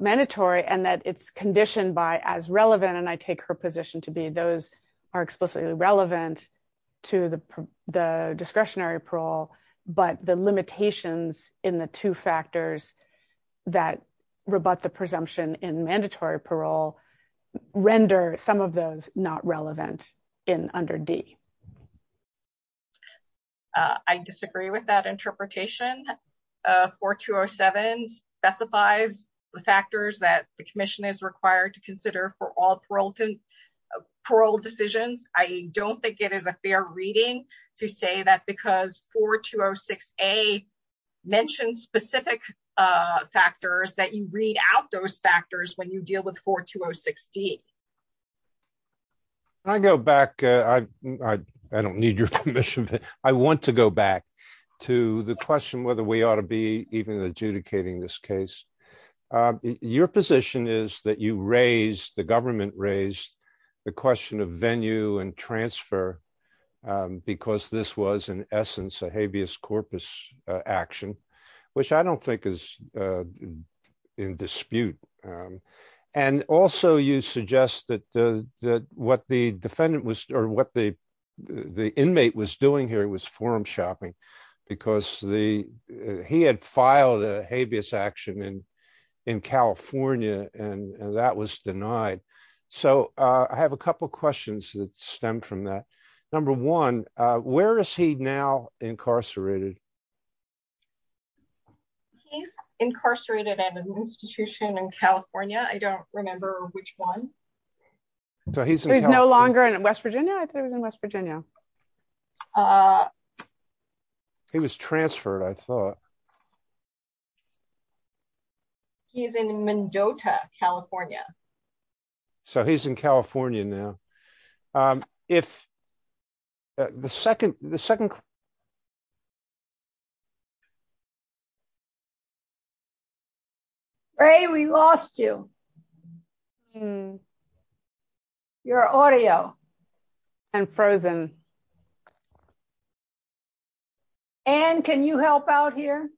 mandatory and that it's conditioned by as relevant. And I take her position to be those are explicitly relevant to the discretionary parole, but the limitations in the two factors that rebut the presumption in mandatory parole render some of those not relevant in under D. I disagree with that interpretation. 4207 specifies the factors that the commission is required to consider for all parole decisions. I don't think it is a fair reading to say that because 4206A mentioned specific factors that you read out those factors when you deal with 4206D. When I go back, I don't need your permission, but I want to go back to the question whether we ought to be even adjudicating this case. Your position is that you raised, the government raised the question of venue and transfer because this was in essence a habeas corpus action, which I don't think is in dispute. And also you suggest that what the defendant was or what the inmate was doing here was forum shopping because he had filed a habeas action in California and that was denied. So I have a couple of questions that stem from that. Number one, where is he now incarcerated? He's incarcerated at an institution in California. I don't remember which one. So he's no longer in West Virginia. I thought he was in West Virginia. He was transferred. I thought he was in West Virginia. He's in Mendoza, California. So he's in California now. Ray, we lost you. You're audio and frozen. Anne, can you help out here?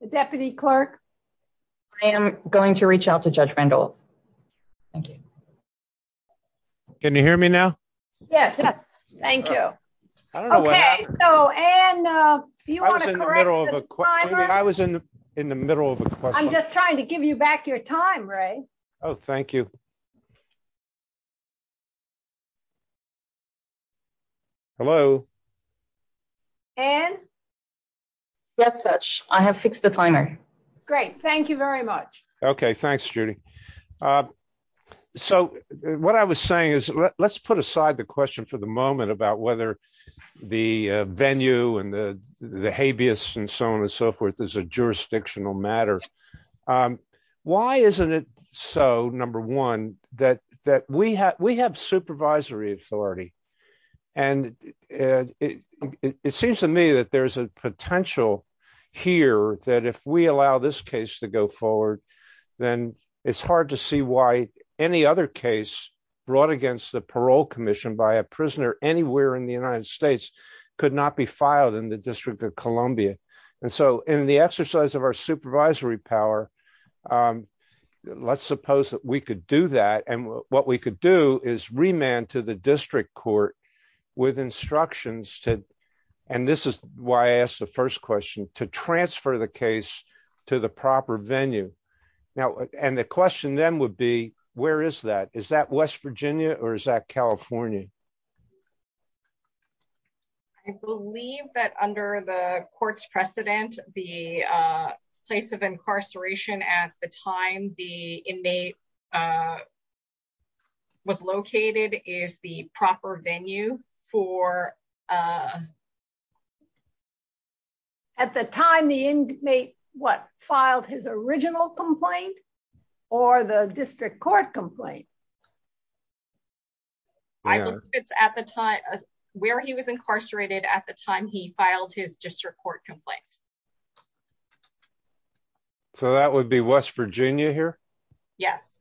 The deputy clerk. I am going to reach out to judge Randolph. Thank you. Can you hear me now? Yes. Yes. Thank you. Okay. So, Anne, if you want to correct me, I was in the middle of a question. I'm just trying to hello. And yes, I have fixed the timer. Great. Thank you very much. Okay. Thanks, Judy. So what I was saying is let's put aside the question for the moment about whether the venue and the habeas and so on and so forth is a jurisdictional matter. But why isn't it so, number one, that we have supervisory authority? And it seems to me that there's a potential here that if we allow this case to go forward, then it's hard to see why any other case brought against the parole commission by a prisoner anywhere in the United And so in the exercise of our supervisory power, let's suppose that we could do that. And what we could do is remand to the district court with instructions. And this is why I asked the first question to transfer the case to the proper venue. Now, and the question then would be, where is that? Is that West Virginia or is that California? I believe that under the court's precedent, the place of incarceration at the time the inmate was located is the proper venue for at the time the inmate what filed his original complaint, or the district court complaint. I know it's at the time where he was incarcerated at the time he filed his district court complaint. So that would be West Virginia here? Yes.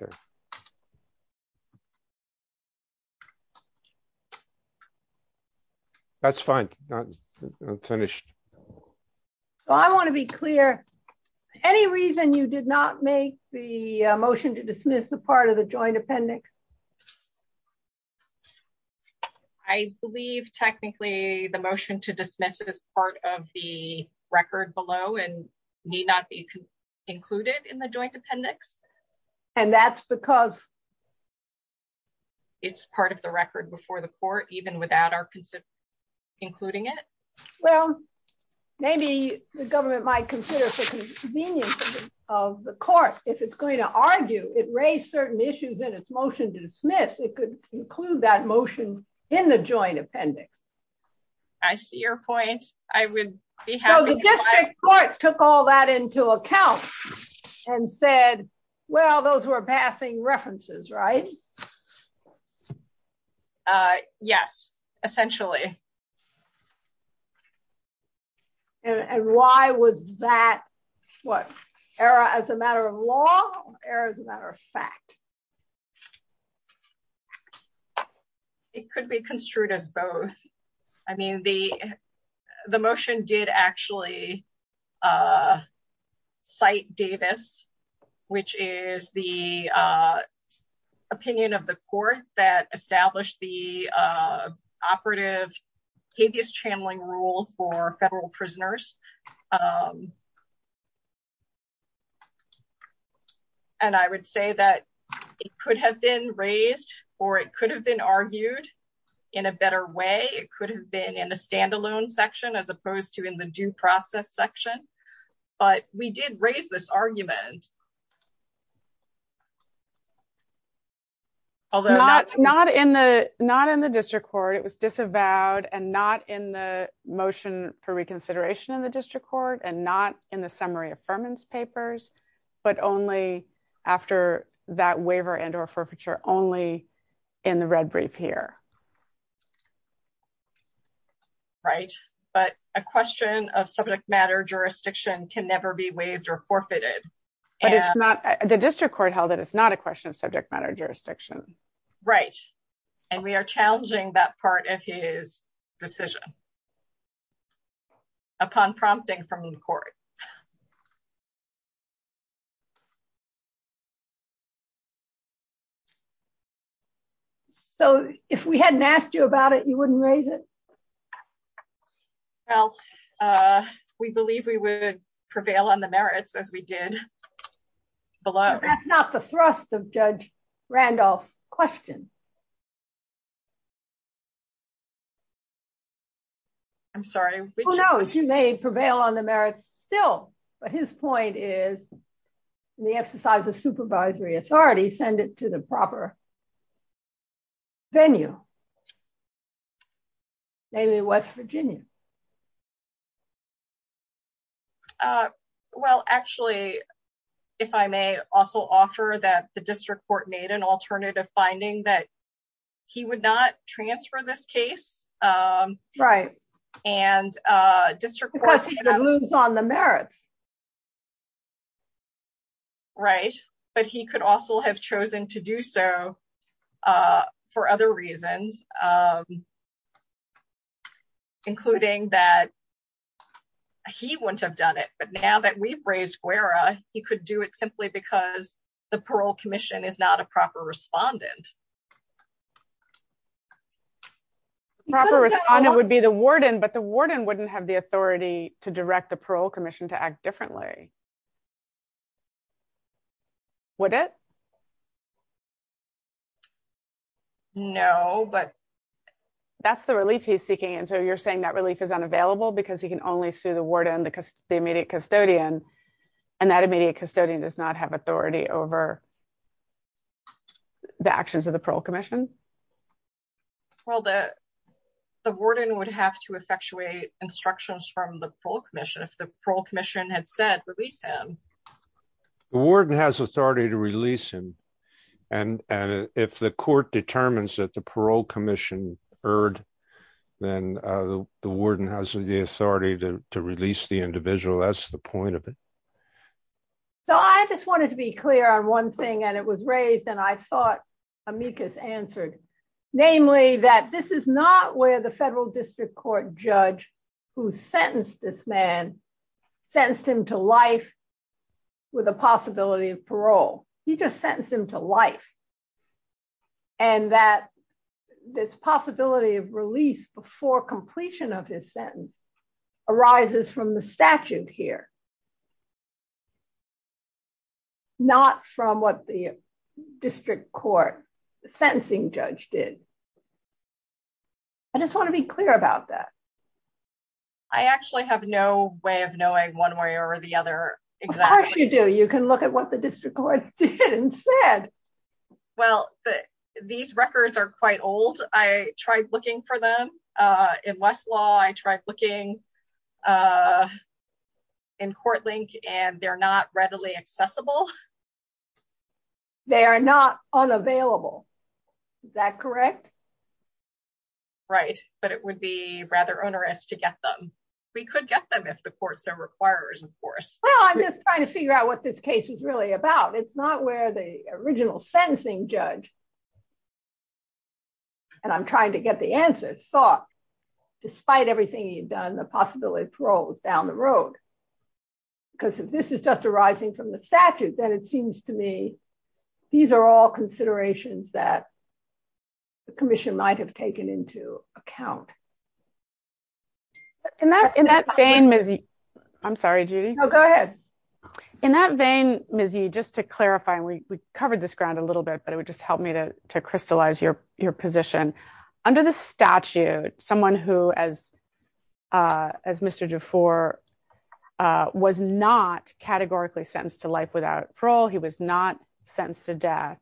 Okay. That's fine. I'm finished. So I want to be clear. Any reason you did not make the motion to dismiss the part of the joint appendix? I believe technically, the motion to dismiss it as part of the record below and need not be included in the joint appendix. And that's because it's part of the record before the court even without our consent, including it. Well, maybe the government might consider the convenience of the court, if it's going to argue it raised certain issues in its motion to dismiss, it could include that motion in the joint appendix. I see your point, I would be happy. So the district court took all that into account and said, well, those were passing references, right? Yes, essentially. And why was that? What era as a matter of law, or as a matter of fact? It could be construed as both. I mean, the motion did actually cite Davis, which is the opinion of the court that established the operative habeas channeling rule for federal prisoners. And I would say that it could have been raised, or it could have been argued in a better way, it could have been in a standalone section as opposed to in the due process section. But we did raise this argument. Although not in the not in the district court, it was disavowed and not in the motion for reconsideration in the district court and not in the summary affirmance papers, but only after that waiver and or forfeiture only in the red brief here. Right, but a question of subject matter jurisdiction can never be waived or forfeited. And it's not the district court held that it's not a question of subject matter jurisdiction. Right. And we are challenging that part of his decision upon prompting from the court. So, if we hadn't asked you about it, you wouldn't raise it. Well, we believe we would prevail on the merits as we did. Below, that's not the thrust of Judge Randolph question. I'm sorry, we know she may prevail on the merits still. But his point is the exercise of supervisory authority, send it to the proper venue. Maybe West Virginia. Well, actually, if I may also offer that the district court made an alternative finding that he would not transfer this case. Right. And district rules on the merits. Right. But he could also have chosen to do so. For other reasons, including that he wouldn't have done it. But now that we've raised Guerra, he could do it simply because the parole commission is not a proper respondent. The proper respondent would be the warden, but the warden wouldn't have the authority to direct the parole commission to act differently. Would it? No, but that's the relief he's seeking. And so you're saying that relief is unavailable because he can only sue the warden because the immediate custodian and that immediate custodian does not have authority over the actions of the parole commission. Well, the warden would have to effectuate instructions from the parole commission if the parole commission had said release him, the warden has authority to release him. And if the court determines that the parole commission heard, then the warden has the authority to release the individual. That's the point of it. So I just wanted to be clear on one thing, and it was raised and I thought Amicus answered, namely that this is not where the federal district court judge who sentenced this man, sentenced him to life with a possibility of parole. He just sentenced him to life. And that this possibility of release before completion of his sentence arises from the sentencing judge did. I just want to be clear about that. I actually have no way of knowing one way or the other. Of course you do. You can look at what the district court did and said. Well, these records are quite old. I tried looking for them in Westlaw. I tried looking in Courtlink and they're not readily accessible. They are not unavailable. Is that correct? Right, but it would be rather onerous to get them. We could get them if the court so requires, of course. Well, I'm just trying to figure out what this case is really about. It's not where the original sentencing judge, and I'm trying to get the answer, thought, despite everything he'd done, the possibility of parole was down the road. Because if this is just arising from the statute, then it seems to me these are all considerations that the commission might have taken into account. In that vein, Ms. Yee, just to clarify, we covered this ground a little bit, but it would just help me to crystallize your position. Under the statute, someone who has as Mr. DeFore was not categorically sentenced to life without parole. He was not sentenced to death.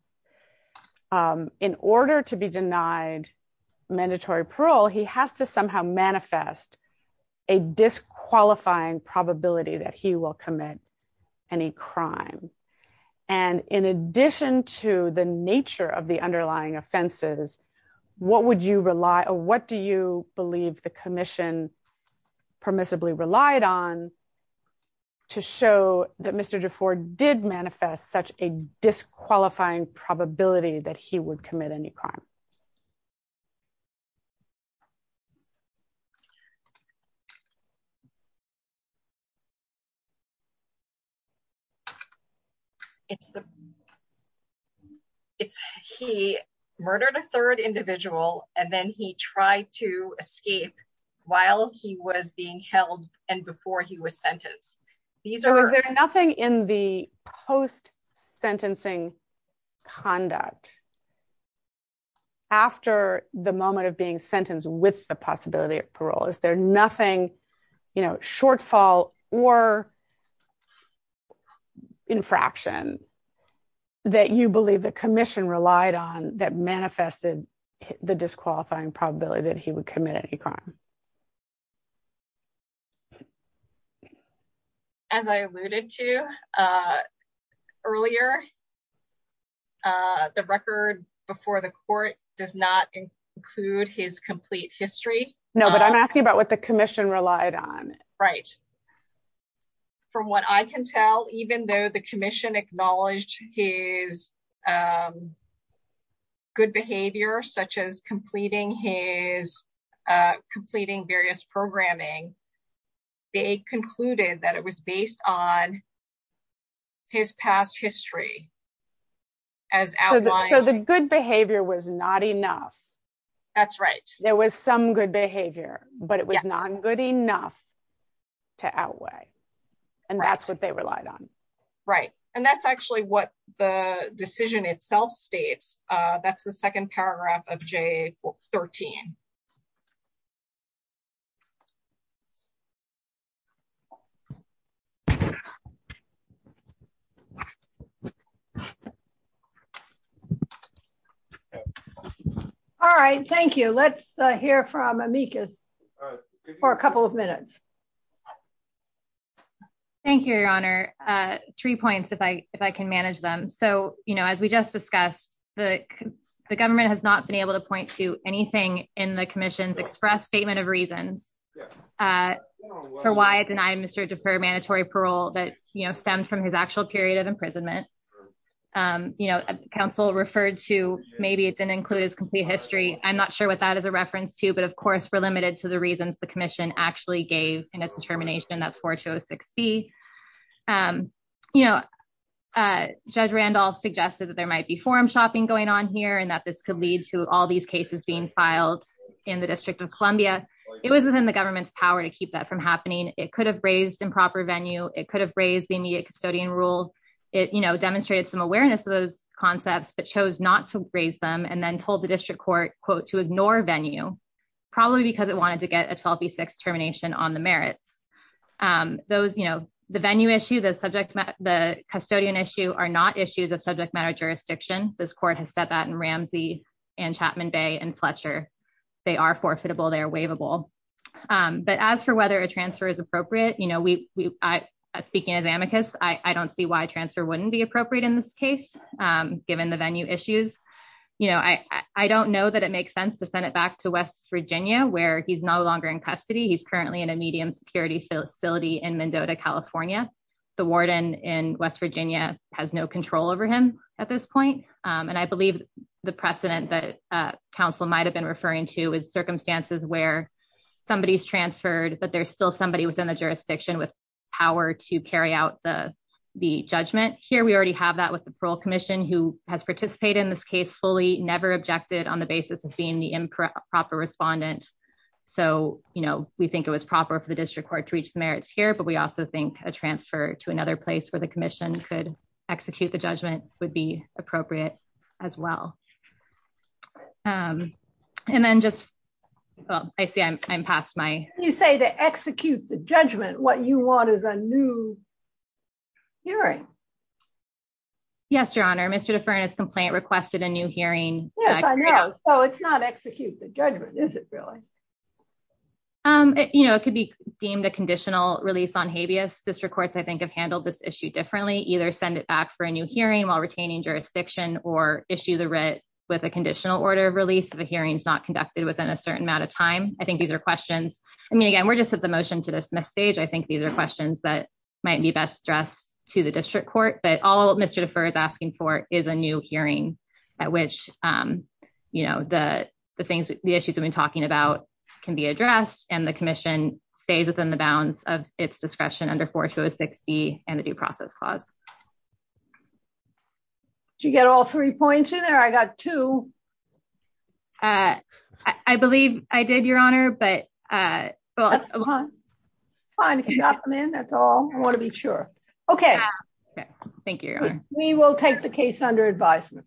In order to be denied mandatory parole, he has to somehow manifest a disqualifying probability that he will commit any crime. And in addition to the nature of the underlying offenses, what would you rely on? What do you believe the commission permissibly relied on to show that Mr. DeFore did manifest such a disqualifying probability that he would commit any crime? He murdered a third individual, and then he tried to escape while he was being held and before he was sentenced. Was there nothing in the post-sentencing conduct after the moment of being sentenced with the possibility of parole? Is there nothing, you know, shortfall or infraction that you believe the commission relied on that manifested the disqualifying probability that he would commit any crime? As I alluded to earlier, the record before the court does not include his complete history. No, but I'm asking about what the commission relied on. Right. From what I can tell, even though the commission acknowledged his good behavior, such as completing various programming, they concluded that it was based on his past history. So the good behavior was not enough. That's right. There was some good behavior, but it was not good enough to outweigh, and that's what they relied on. Right. And that's actually what the decision itself states. That's the second paragraph of JA-13. All right. Thank you. Let's hear from Amicus for a couple of minutes. Thank you, Your Honor. Three points, if I can manage them. So, you know, as we just discussed, the government has not been able to point to anything in the commission's express statement of reasons for why it denied Mr. DePere mandatory parole that, you know, stemmed from his actual period of imprisonment. You know, counsel referred to maybe it didn't include his complete history. I'm not sure what that is a reference to, but of course, we're limited to the reasons the in its determination, that's 4206B. You know, Judge Randolph suggested that there might be forum shopping going on here and that this could lead to all these cases being filed in the District of Columbia. It was within the government's power to keep that from happening. It could have raised improper venue. It could have raised the immediate custodian rule. It, you know, demonstrated some awareness of those concepts, but chose not to raise them and then told the district court, quote, to ignore venue, probably because it wanted to a 12B6 termination on the merits. Those, you know, the venue issue, the subject, the custodian issue are not issues of subject matter jurisdiction. This court has said that in Ramsey and Chapman Bay and Fletcher. They are forfeitable. They are waivable. But as for whether a transfer is appropriate, you know, we, I speaking as amicus, I don't see why transfer wouldn't be appropriate in this case, given the venue issues. You know, I don't know that it makes sense to send it back to West Virginia where he's no longer in custody. He's currently in a medium security facility in Mendota, California. The warden in West Virginia has no control over him at this point. And I believe the precedent that council might've been referring to is circumstances where somebody's transferred, but there's still somebody within the jurisdiction with power to carry out the, the judgment here. We already have that with the parole commission who has participated in this case fully never objected on the basis of being the improper respondent. So, you know, we think it was proper for the district court to reach the merits here, but we also think a transfer to another place where the commission could execute the judgment would be appropriate as well. And then just, well, I see I'm, I'm past my- You say to execute the judgment, what you want is a new hearing. Yes, your honor. Mr. Deferne's complaint requested a new hearing. Yes, I know. So it's not execute the judgment, is it really? You know, it could be deemed a conditional release on habeas. District courts, I think, have handled this issue differently. Either send it back for a new hearing while retaining jurisdiction or issue the writ with a conditional order of release if a hearing is not conducted within a certain amount of time. I think these are questions. I mean, again, we're just at the motion to dismiss stage. I think these are questions that might be best addressed to the district court, but all Mr. Deferne's asking for is a new hearing at which, you know, the, the things, the issues we've been talking about can be addressed and the commission stays within the bounds of its discretion under 4206D and the due process clause. Did you get all three points in there? I got two. I believe I did, your honor, but- It's fine. If you got them in, that's all I want to be sure. Okay. Thank you, your honor. We will take the case under advisement.